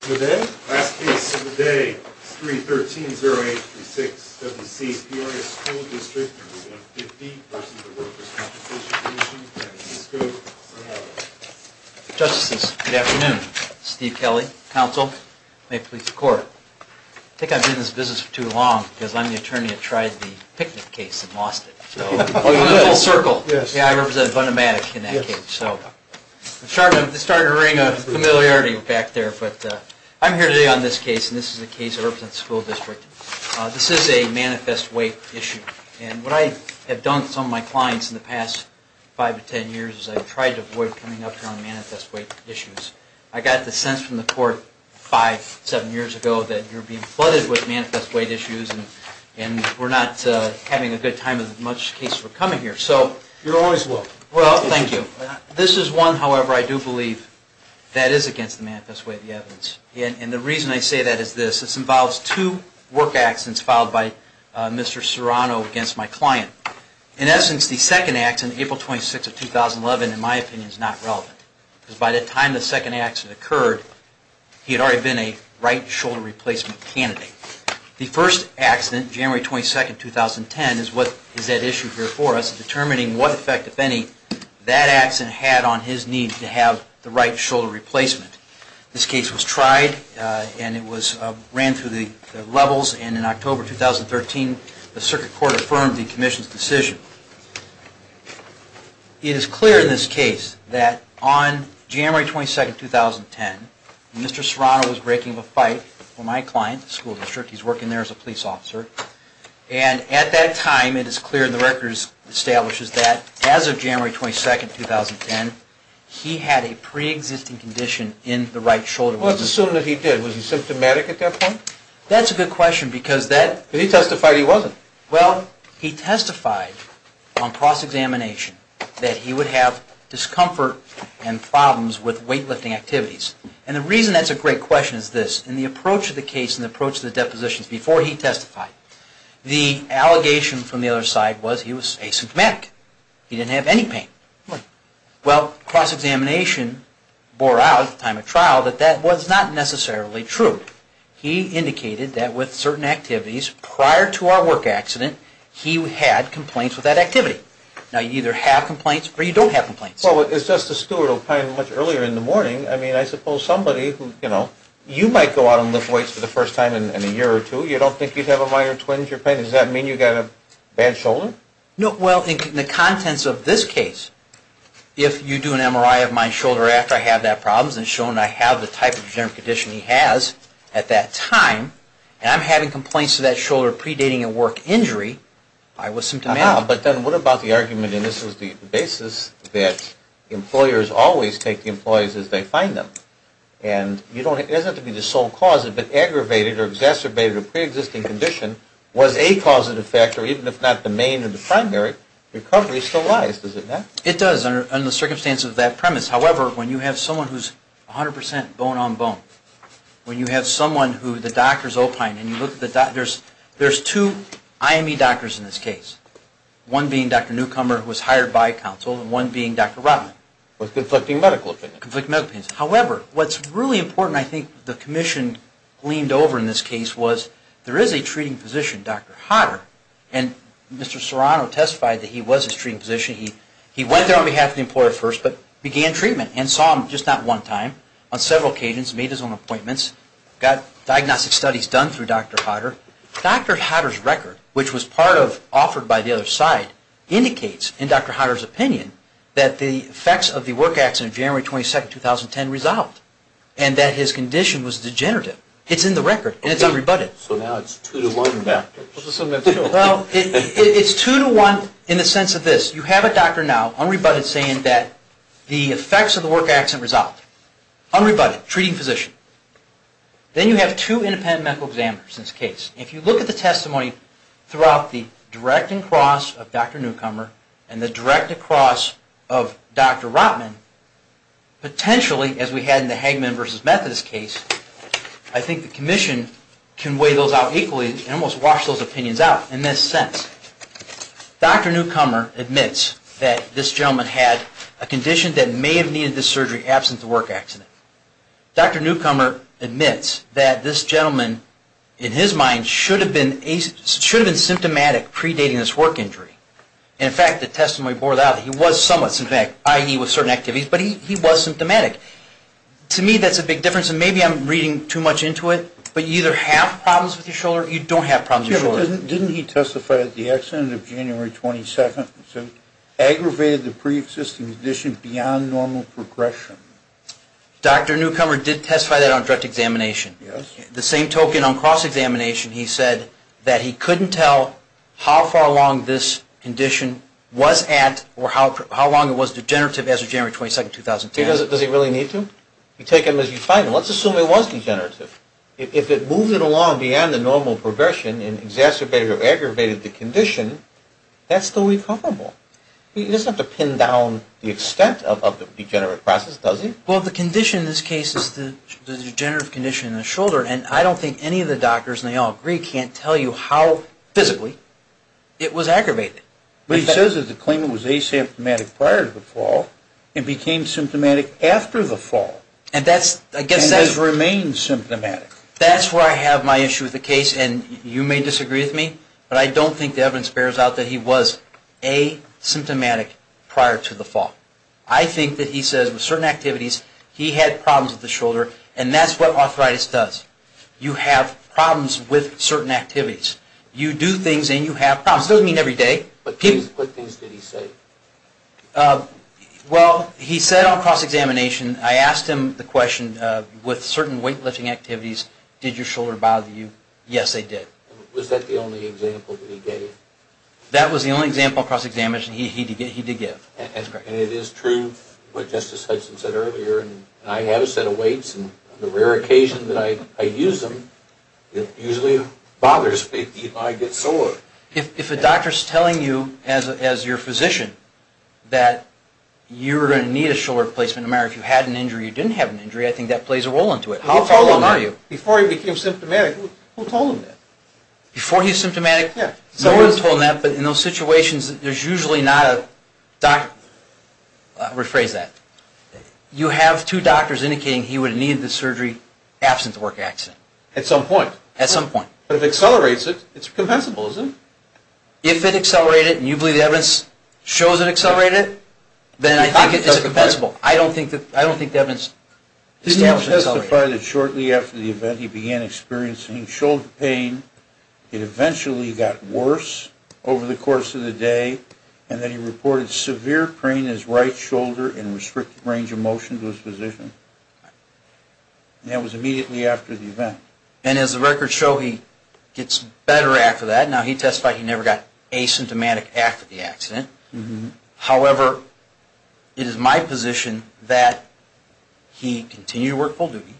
Today, last case of the day, 3-13-08-36, W.C. Peoria School District 150 v. Workers' Compensation Commission, San Francisco, Sonoma. Justices, good afternoon. Steve Kelly, counsel. May it please the Court. I think I've been in this business for too long because I'm the attorney that tried the picnic case and lost it. I'm in a little circle. I represent a bunch of men in that case. It started to bring a familiarity back there. I'm here today on this case, and this is a case that represents the school district. This is a manifest weight issue. What I have done with some of my clients in the past 5-10 years is I've tried to avoid coming up here on manifest weight issues. I got the sense from the Court 5-7 years ago that you're being flooded with manifest weight issues and we're not having a good time with as much cases as we're coming here. You're always welcome. Thank you. This is one, however, I do believe that is against the manifest weight of the evidence. The reason I say that is this. This involves two work accidents filed by Mr. Serrano against my client. In essence, the second accident, April 26, 2011, in my opinion, is not relevant. By the time the second accident occurred, he had already been a right shoulder replacement candidate. The first accident, January 22, 2010, is what is at issue here for us, determining what effect, if any, that accident had on his need to have the right shoulder replacement. This case was tried and it ran through the levels, and in October 2013, the Circuit Court affirmed the Commission's decision. It is clear in this case that on January 22, 2010, Mr. Serrano was breaking up a fight for my client, the school district. He's working there as a police officer. And at that time, it is clear the record establishes that as of January 22, 2010, he had a pre-existing condition in the right shoulder. Let's assume that he did. Was he symptomatic at that point? That's a good question because that... But he testified he wasn't. Well, he testified on cross-examination that he would have discomfort and problems with weightlifting activities. And the reason that's a great question is this. In the approach of the case and the approach of the depositions before he testified, the allegation from the other side was he was asymptomatic. He didn't have any pain. Well, cross-examination bore out at the time of trial that that was not necessarily true. He indicated that with certain activities prior to our work accident, he had complaints with that activity. Now, you either have complaints or you don't have complaints. Well, it's just the steward opined much earlier in the morning. I mean, I suppose somebody who, you know, you might go out and lift weights for the first time in a year or two. You don't think you'd have a minor twinge of pain. Does that mean you've got a bad shoulder? No. Well, in the contents of this case, if you do an MRI of my shoulder after I have that problem and shown I have the type of degenerative condition he has at that time, and I'm having complaints to that shoulder predating a work injury, I was symptomatic. But then what about the argument, and this was the basis, that employers always take the employees as they find them? And it doesn't have to be the sole cause. If it aggravated or exacerbated a preexisting condition was a causative factor, even if not the main or the primary, recovery still lies, does it not? It does under the circumstances of that premise. However, when you have someone who's 100% bone on bone, when you have someone who the doctor's opined, and you look at the doctors, there's two IME doctors in this case, one being Dr. Newcomer, who was hired by counsel, and one being Dr. Rotman. With conflicting medical opinions. Conflicting medical opinions. However, what's really important, I think, the commission leaned over in this case, was there is a treating physician, Dr. Hodder, and Mr. Serrano testified that he was his treating physician. He went there on behalf of the employer first, but began treatment, and saw him just not one time, on several occasions, made his own appointments, got diagnostic studies done through Dr. Hodder. Dr. Hodder's record, which was part of, offered by the other side, indicates, in Dr. Hodder's opinion, that the effects of the work accident, January 22nd, 2010, resolved, and that his condition was degenerative. It's in the record, and it's unrebutted. So now it's two to one. Well, it's two to one in the sense of this. You have a doctor now, unrebutted, saying that the effects of the work accident resolved. Unrebutted. Treating physician. Then you have two independent medical examiners in this case. If you look at the testimony throughout the direct and cross of Dr. Newcomer, and the direct and cross of Dr. Rotman, potentially, as we had in the Hagman versus Methodist case, I think the Commission can weigh those out equally, and almost wash those opinions out in this sense. Dr. Newcomer admits that this gentleman had a condition that may have needed this surgery absent the work accident. Dr. Newcomer admits that this gentleman, in his mind, should have been symptomatic predating this work injury. And, in fact, the testimony bore that out. He was somewhat symptomatic, i.e. with certain activities, but he was symptomatic. To me, that's a big difference. And maybe I'm reading too much into it, but you either have problems with your shoulder, or you don't have problems with your shoulder. Didn't he testify that the accident of January 22nd aggravated the preexisting condition beyond normal progression? Dr. Newcomer did testify that on direct examination. The same token on cross-examination, he said that he couldn't tell how far along this condition was at, or how long it was degenerative as of January 22nd, 2010. Does he really need to? You take him as you find him. Let's assume it was degenerative. If it moved it along beyond the normal progression and exacerbated or aggravated the condition, that's still recoverable. He doesn't have to pin down the extent of the degenerative process, does he? Well, the condition in this case is the degenerative condition in the shoulder, and I don't think any of the doctors, and they all agree, can't tell you how physically it was aggravated. What he says is the claimant was asymptomatic prior to the fall and became symptomatic after the fall and has remained symptomatic. That's where I have my issue with the case, and you may disagree with me, but I don't think the evidence bears out that he was asymptomatic prior to the fall. I think that he says with certain activities he had problems with the shoulder, and that's what arthritis does. You have problems with certain activities. You do things and you have problems. It doesn't mean every day. Okay. What things did he say? Well, he said on cross-examination, I asked him the question, with certain weightlifting activities, did your shoulder bother you? Yes, they did. Was that the only example that he gave? That was the only example on cross-examination he did give. And it is true what Justice Hudson said earlier, and I have a set of weights, and on the rare occasion that I use them, it usually bothers me if I get sore. If a doctor is telling you, as your physician, that you're going to need a shoulder replacement, no matter if you had an injury or you didn't have an injury, I think that plays a role into it. How far along are you? Before he became symptomatic, who told him that? Before he was symptomatic? Yes. No one told him that, but in those situations, there's usually not a doctor. I'll rephrase that. You have two doctors indicating he would have needed the surgery absent the work accident. At some point. At some point. But if it accelerates it, it's compensable, isn't it? If it accelerated, and you believe the evidence shows it accelerated, then I think it is compensable. I don't think the evidence establishes it accelerated. Did he ever testify that shortly after the event he began experiencing shoulder pain, it eventually got worse over the course of the day, and that he reported severe pain in his right shoulder That was immediately after the event. And as the records show, he gets better after that. Now, he testified he never got asymptomatic after the accident. However, it is my position that he continued to work full duty.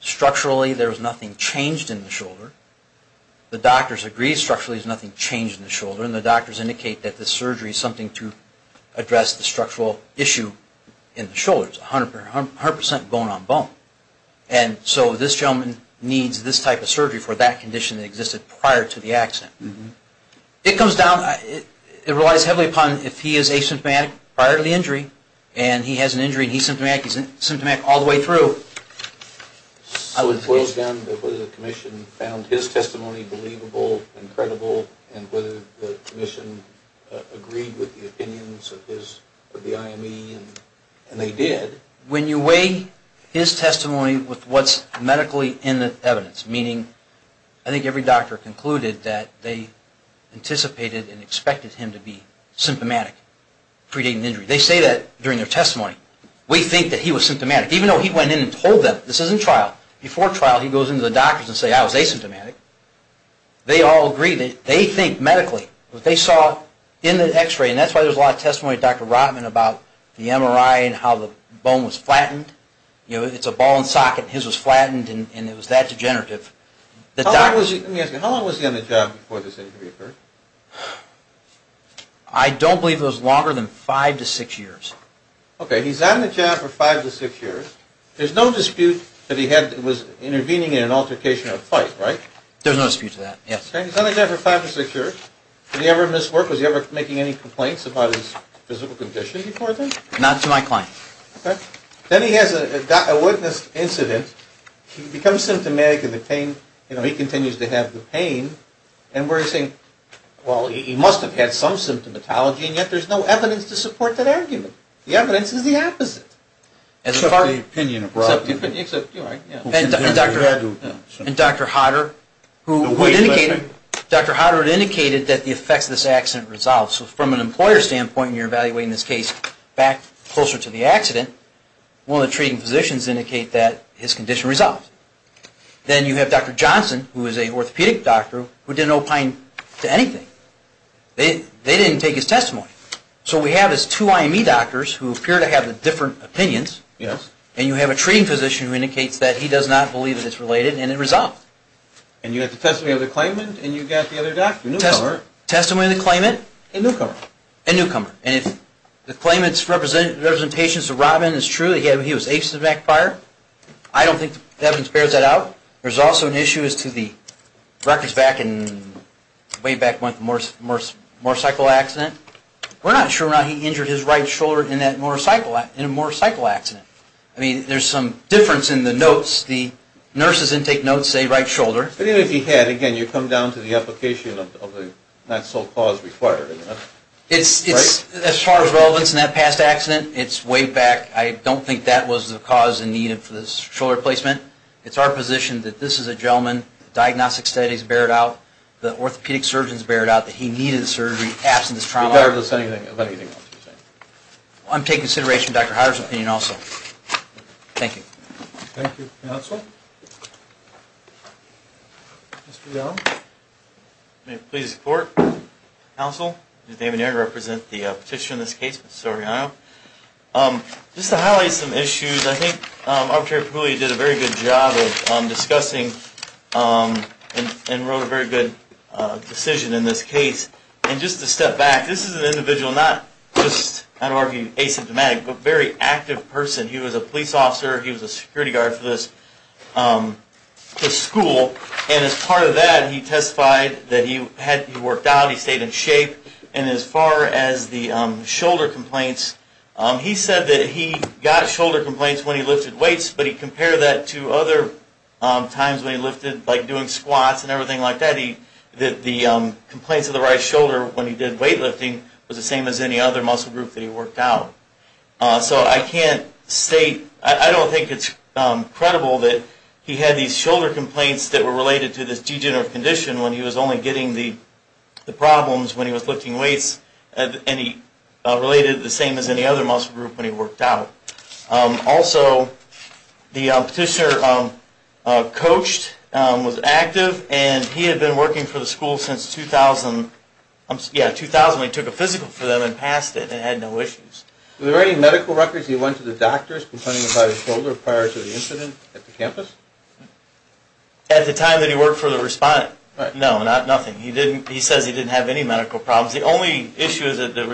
Structurally, there was nothing changed in the shoulder. The doctors agreed structurally there was nothing changed in the shoulder, and the doctors indicate that this surgery is something to address the structural issue in the shoulders, 100% bone-on-bone. And so this gentleman needs this type of surgery for that condition that existed prior to the accident. It comes down, it relies heavily upon if he is asymptomatic prior to the injury, and he has an injury and he's symptomatic all the way through. So it boils down to whether the commission found his testimony believable and credible, and whether the commission agreed with the opinions of the IME, and they did. When you weigh his testimony with what's medically in the evidence, meaning I think every doctor concluded that they anticipated and expected him to be symptomatic pre-dating injury. They say that during their testimony. We think that he was symptomatic, even though he went in and told them, this isn't trial. Before trial, he goes into the doctors and says, I was asymptomatic. They all agree that they think medically what they saw in the X-ray, and that's why there's a lot of testimony of Dr. Rotman about the MRI and how the bone was flattened. It's a ball and socket. His was flattened and it was that degenerative. Let me ask you, how long was he on the job before this injury occurred? I don't believe it was longer than five to six years. Okay. He's on the job for five to six years. There's no dispute that he was intervening in an altercation or a fight, right? There's no dispute to that, yes. He's on the job for five to six years. Did he ever miss work? Did he ever miss work? Was he ever making any complaints about his physical condition before then? Not to my client. Then he has a witness incident. He becomes symptomatic of the pain. He continues to have the pain. And we're saying, well, he must have had some symptomatology, and yet there's no evidence to support that argument. The evidence is the opposite. Except the opinion of Rotman. And Dr. Hodder, who indicated that the effects of this accident resolved. So from an employer standpoint, and you're evaluating this case back closer to the accident, one of the treating physicians indicated that his condition resolved. Then you have Dr. Johnson, who is an orthopedic doctor, who didn't opine to anything. They didn't take his testimony. So what we have is two IME doctors who appear to have different opinions, and you have a treating physician who indicates that he does not believe that it's related, and it resolved. And you have the testimony of the claimant, and you've got the other doctor, a newcomer. Testimony of the claimant. And newcomer. And newcomer. And if the claimant's representations to Rotman is true, that he was aces of McIntyre, I don't think the evidence bears that out. There's also an issue as to the records back in, way back when, the motorcycle accident. We're not sure whether or not he injured his right shoulder in that motorcycle accident. I mean, there's some difference in the notes. The nurse's intake notes say right shoulder. But even if he had, again, you come down to the application of the not sole cause required. It's, as far as relevance in that past accident, it's way back. I don't think that was the cause and need of this shoulder replacement. It's our position that this is a gentleman, the diagnostic studies bear it out, the orthopedic surgeons bear it out, that he needed the surgery, absent his trauma. Regardless of anything else you're saying. I'm taking consideration of Dr. Hyer's opinion also. Thank you. Thank you. Counsel? Mr. Young? May it please the Court? Counsel? David Young, I represent the petitioner in this case, Mr. Soriano. Just to highlight some issues, I think Arbitrator Puglia did a very good job of discussing and wrote a very good decision in this case. And just to step back, this is an individual not just, I don't want to be asymptomatic, but a very active person. He was a police officer. He was a security guard for this school. And as part of that, he testified that he worked out. He stayed in shape. And as far as the shoulder complaints, he said that he got shoulder complaints when he lifted weights. But he compared that to other times when he lifted, like doing squats and everything like that, that the complaints of the right shoulder when he did weight lifting was the same as any other muscle group that he worked out. So I can't state, I don't think it's credible that he had these shoulder complaints that were related to this degenerative condition when he was only getting the problems when he was lifting weights. And he related the same as any other muscle group when he worked out. Also, the petitioner coached, was active, and he had been working for the school since 2000. Yeah, 2000 when he took a physical for them and passed it and had no issues. Were there any medical records he went to the doctors complaining about his shoulder prior to the incident at the campus? At the time that he worked for the respondent. No, nothing. He says he didn't have any medical problems. The only issue that the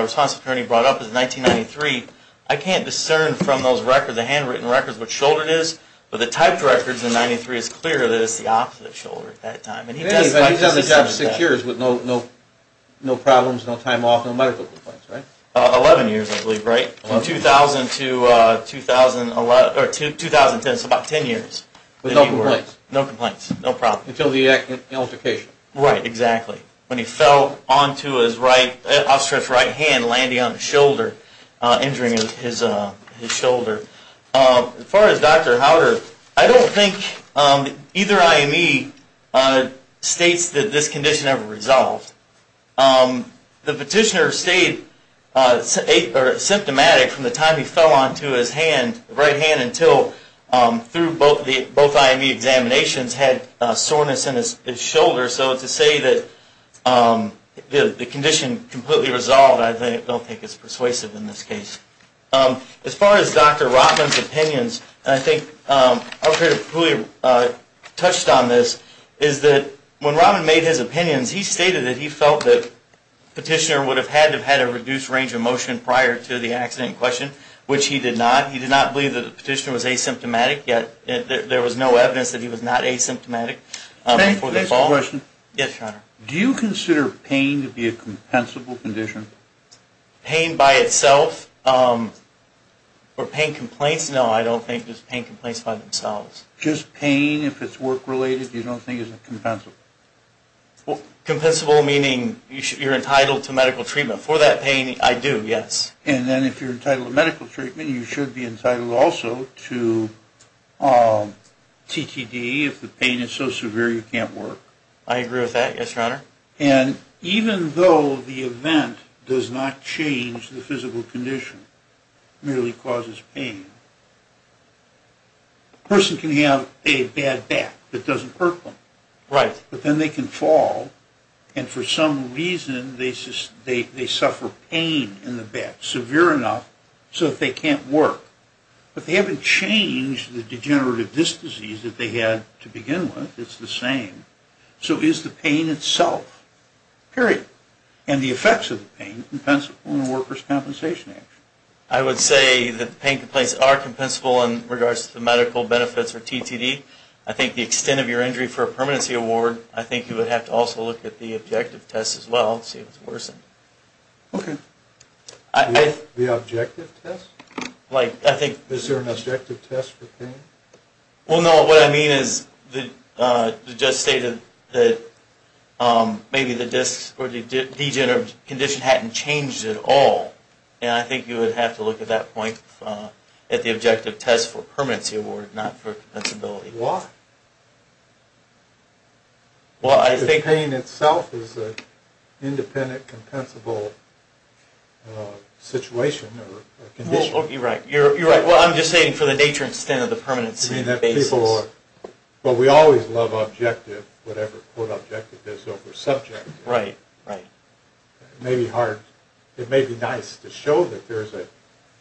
response attorney brought up is 1993. I can't discern from those records, the handwritten records, what shoulder it is, but the typed records in 93 is clear that it's the opposite shoulder at that time. And he doesn't have six years with no problems, no time off, no medical complaints, right? 11 years, I believe, right? From 2000 to 2010, so about 10 years. With no complaints. No complaints, no problems. Until the altercation. Right, exactly. When he fell onto his right, I'll stress right hand landing on his shoulder, injuring his shoulder. As far as Dr. Howder, I don't think either IME states that this condition ever resolved. The petitioner stayed symptomatic from the time he fell onto his hand, right hand, until through both IME examinations had soreness in his shoulder. So to say that the condition completely resolved, I don't think is persuasive in this case. As far as Dr. Robbins' opinions, and I think Dr. Cooley touched on this, is that when Robbins made his opinions, he stated that he felt that the petitioner would have had to have had a reduced range of motion prior to the accident in question, which he did not. He did not believe that the petitioner was asymptomatic, yet there was no evidence that he was not asymptomatic before the fall. Can I ask a question? Yes, John. Do you consider pain to be a compensable condition? Pain by itself, or pain complaints? No, I don't think just pain complaints by themselves. Just pain if it's work-related, you don't think is it compensable? Compensable meaning you're entitled to medical treatment. For that pain, I do, yes. And then if you're entitled to medical treatment, you should be entitled also to TTD if the pain is so severe you can't work. I agree with that, yes, Your Honor. And even though the event does not change the physical condition, merely causes pain, a person can have a bad back that doesn't hurt them. Right. But then they can fall, and for some reason they suffer pain in the back, severe enough so that they can't work. But they haven't changed the degenerative disc disease that they had to begin with. It's the same. So is the pain itself, period, and the effects of the pain, compensable in a workers' compensation action? I would say that pain complaints are compensable in regards to the medical benefits or TTD. I think the extent of your injury for a permanency award, I think you would have to also look at the objective test as well to see if it's worsened. Okay. The objective test? Is there an objective test for pain? Well, no, what I mean is the judge stated that maybe the disc or the degenerative condition hadn't changed at all, and I think you would have to look at that point at the objective test for permanency award, not for compensability. Why? The pain itself is an independent, compensable situation or condition. You're right. Well, I'm just saying for the nature and extent of the permanency basis. But we always love objective, whatever quote objective is over subject. Right, right. It may be nice to show that there's a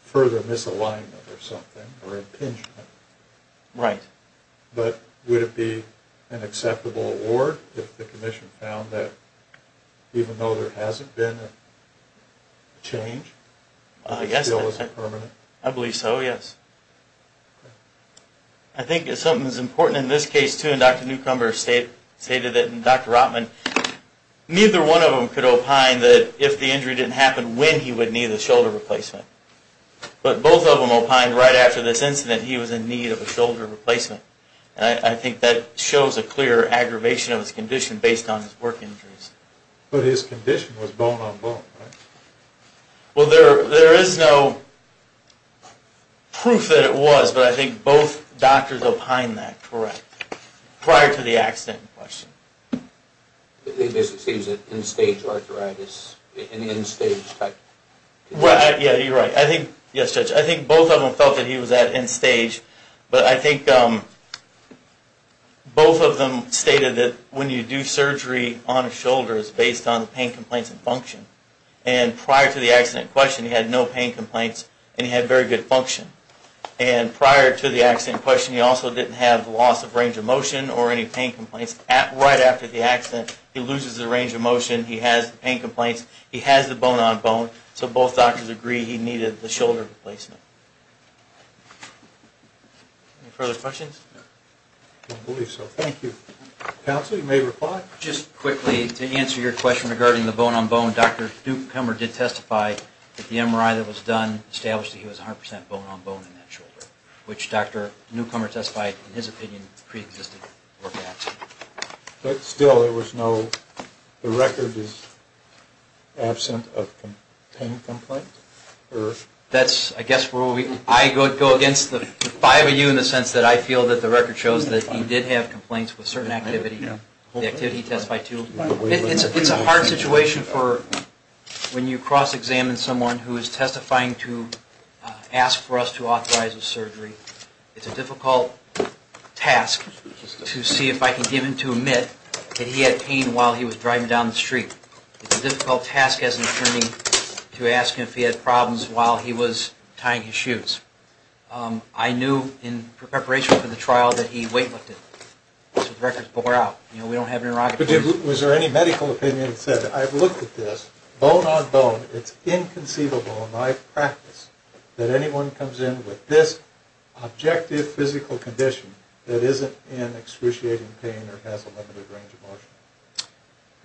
further misalignment or something or impingement. Right. But would it be an acceptable award if the commission found that even though there hasn't been a change, it still isn't permanent? I believe so, yes. I think something that's important in this case too, and Dr. Newcomber stated it and Dr. Rotman, neither one of them could opine that if the injury didn't happen, when he would need a shoulder replacement. But both of them opined right after this incident he was in need of a shoulder replacement. And I think that shows a clear aggravation of his condition based on his work injuries. But his condition was bone on bone, right? Well, there is no proof that it was, but I think both doctors opined that, correct, prior to the accident in question. This is an end stage arthritis, an end stage type condition. Yeah, you're right. Yes, Judge, I think both of them felt that he was at end stage. But I think both of them stated that when you do surgery on a shoulder, it's based on the pain complaints and function. And prior to the accident in question, he had no pain complaints and he had very good function. And prior to the accident in question, he also didn't have loss of range of motion or any pain complaints. Right after the accident, he loses the range of motion. He has pain complaints. He has the bone on bone. So both doctors agreed he needed the shoulder replacement. Any further questions? I don't believe so. Thank you. Counsel, you may reply. Just quickly, to answer your question regarding the bone on bone, Dr. Duke Kummer did testify that the MRI that was done established that he was 100% bone on bone in that shoulder, which Dr. Newcomer testified, in his opinion, preexisted. But still, there was no record of absence of pain complaints? That's, I guess, where I would go against the five of you in the sense that I feel that the record shows that he did have complaints with certain activity, the activity he testified to. It's a hard situation for when you cross-examine someone who is testifying to ask for us to authorize a surgery. It's a difficult task to see if I can get him to admit that he had pain while he was driving down the street. It's a difficult task as an attorney to ask him if he had problems while he was tying his shoes. I knew in preparation for the trial that he weightlifted. So the record bore out. You know, we don't have an interrogation. Was there any medical opinion that said, I've looked at this, bone on bone, it's inconceivable in my practice that anyone comes in with this objective physical condition that isn't in excruciating pain or has a limited range of motion?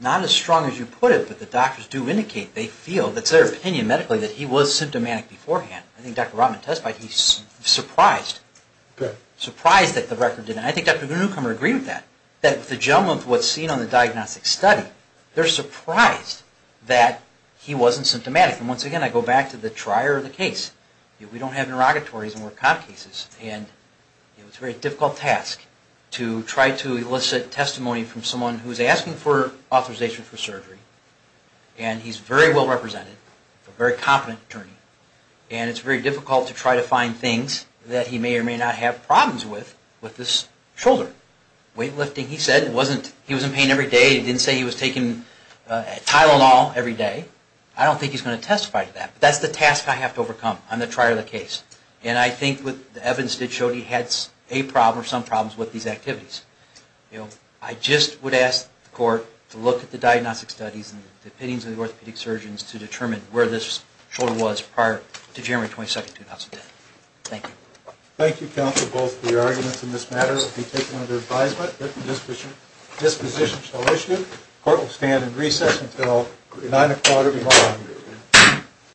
Not as strong as you put it, but the doctors do indicate they feel, that's their opinion medically, that he was symptomatic beforehand. I think Dr. Rotman testified he was surprised. Okay. Surprised that the record didn't. I think Dr. Newcomer agreed with that, that the gentleman was seen on the Once again, I go back to the trier of the case. We don't have interrogatories and we're cop cases. And it's a very difficult task to try to elicit testimony from someone who's asking for authorization for surgery, and he's very well represented, a very competent attorney. And it's very difficult to try to find things that he may or may not have problems with with this shoulder. Weightlifting, he said, he was in pain every day. He didn't say he was taking Tylenol every day. I don't think he's going to testify to that. But that's the task I have to overcome on the trier of the case. And I think what the evidence did show he had a problem or some problems with these activities. I just would ask the court to look at the diagnostic studies and the opinions of the orthopedic surgeons to determine where this shoulder was prior to January 22nd, 2010. Thank you. Thank you, counsel. Both the arguments in this matter will be taken under advisement. This position shall issue. Court will stand in recess until 9 o'clock every morning.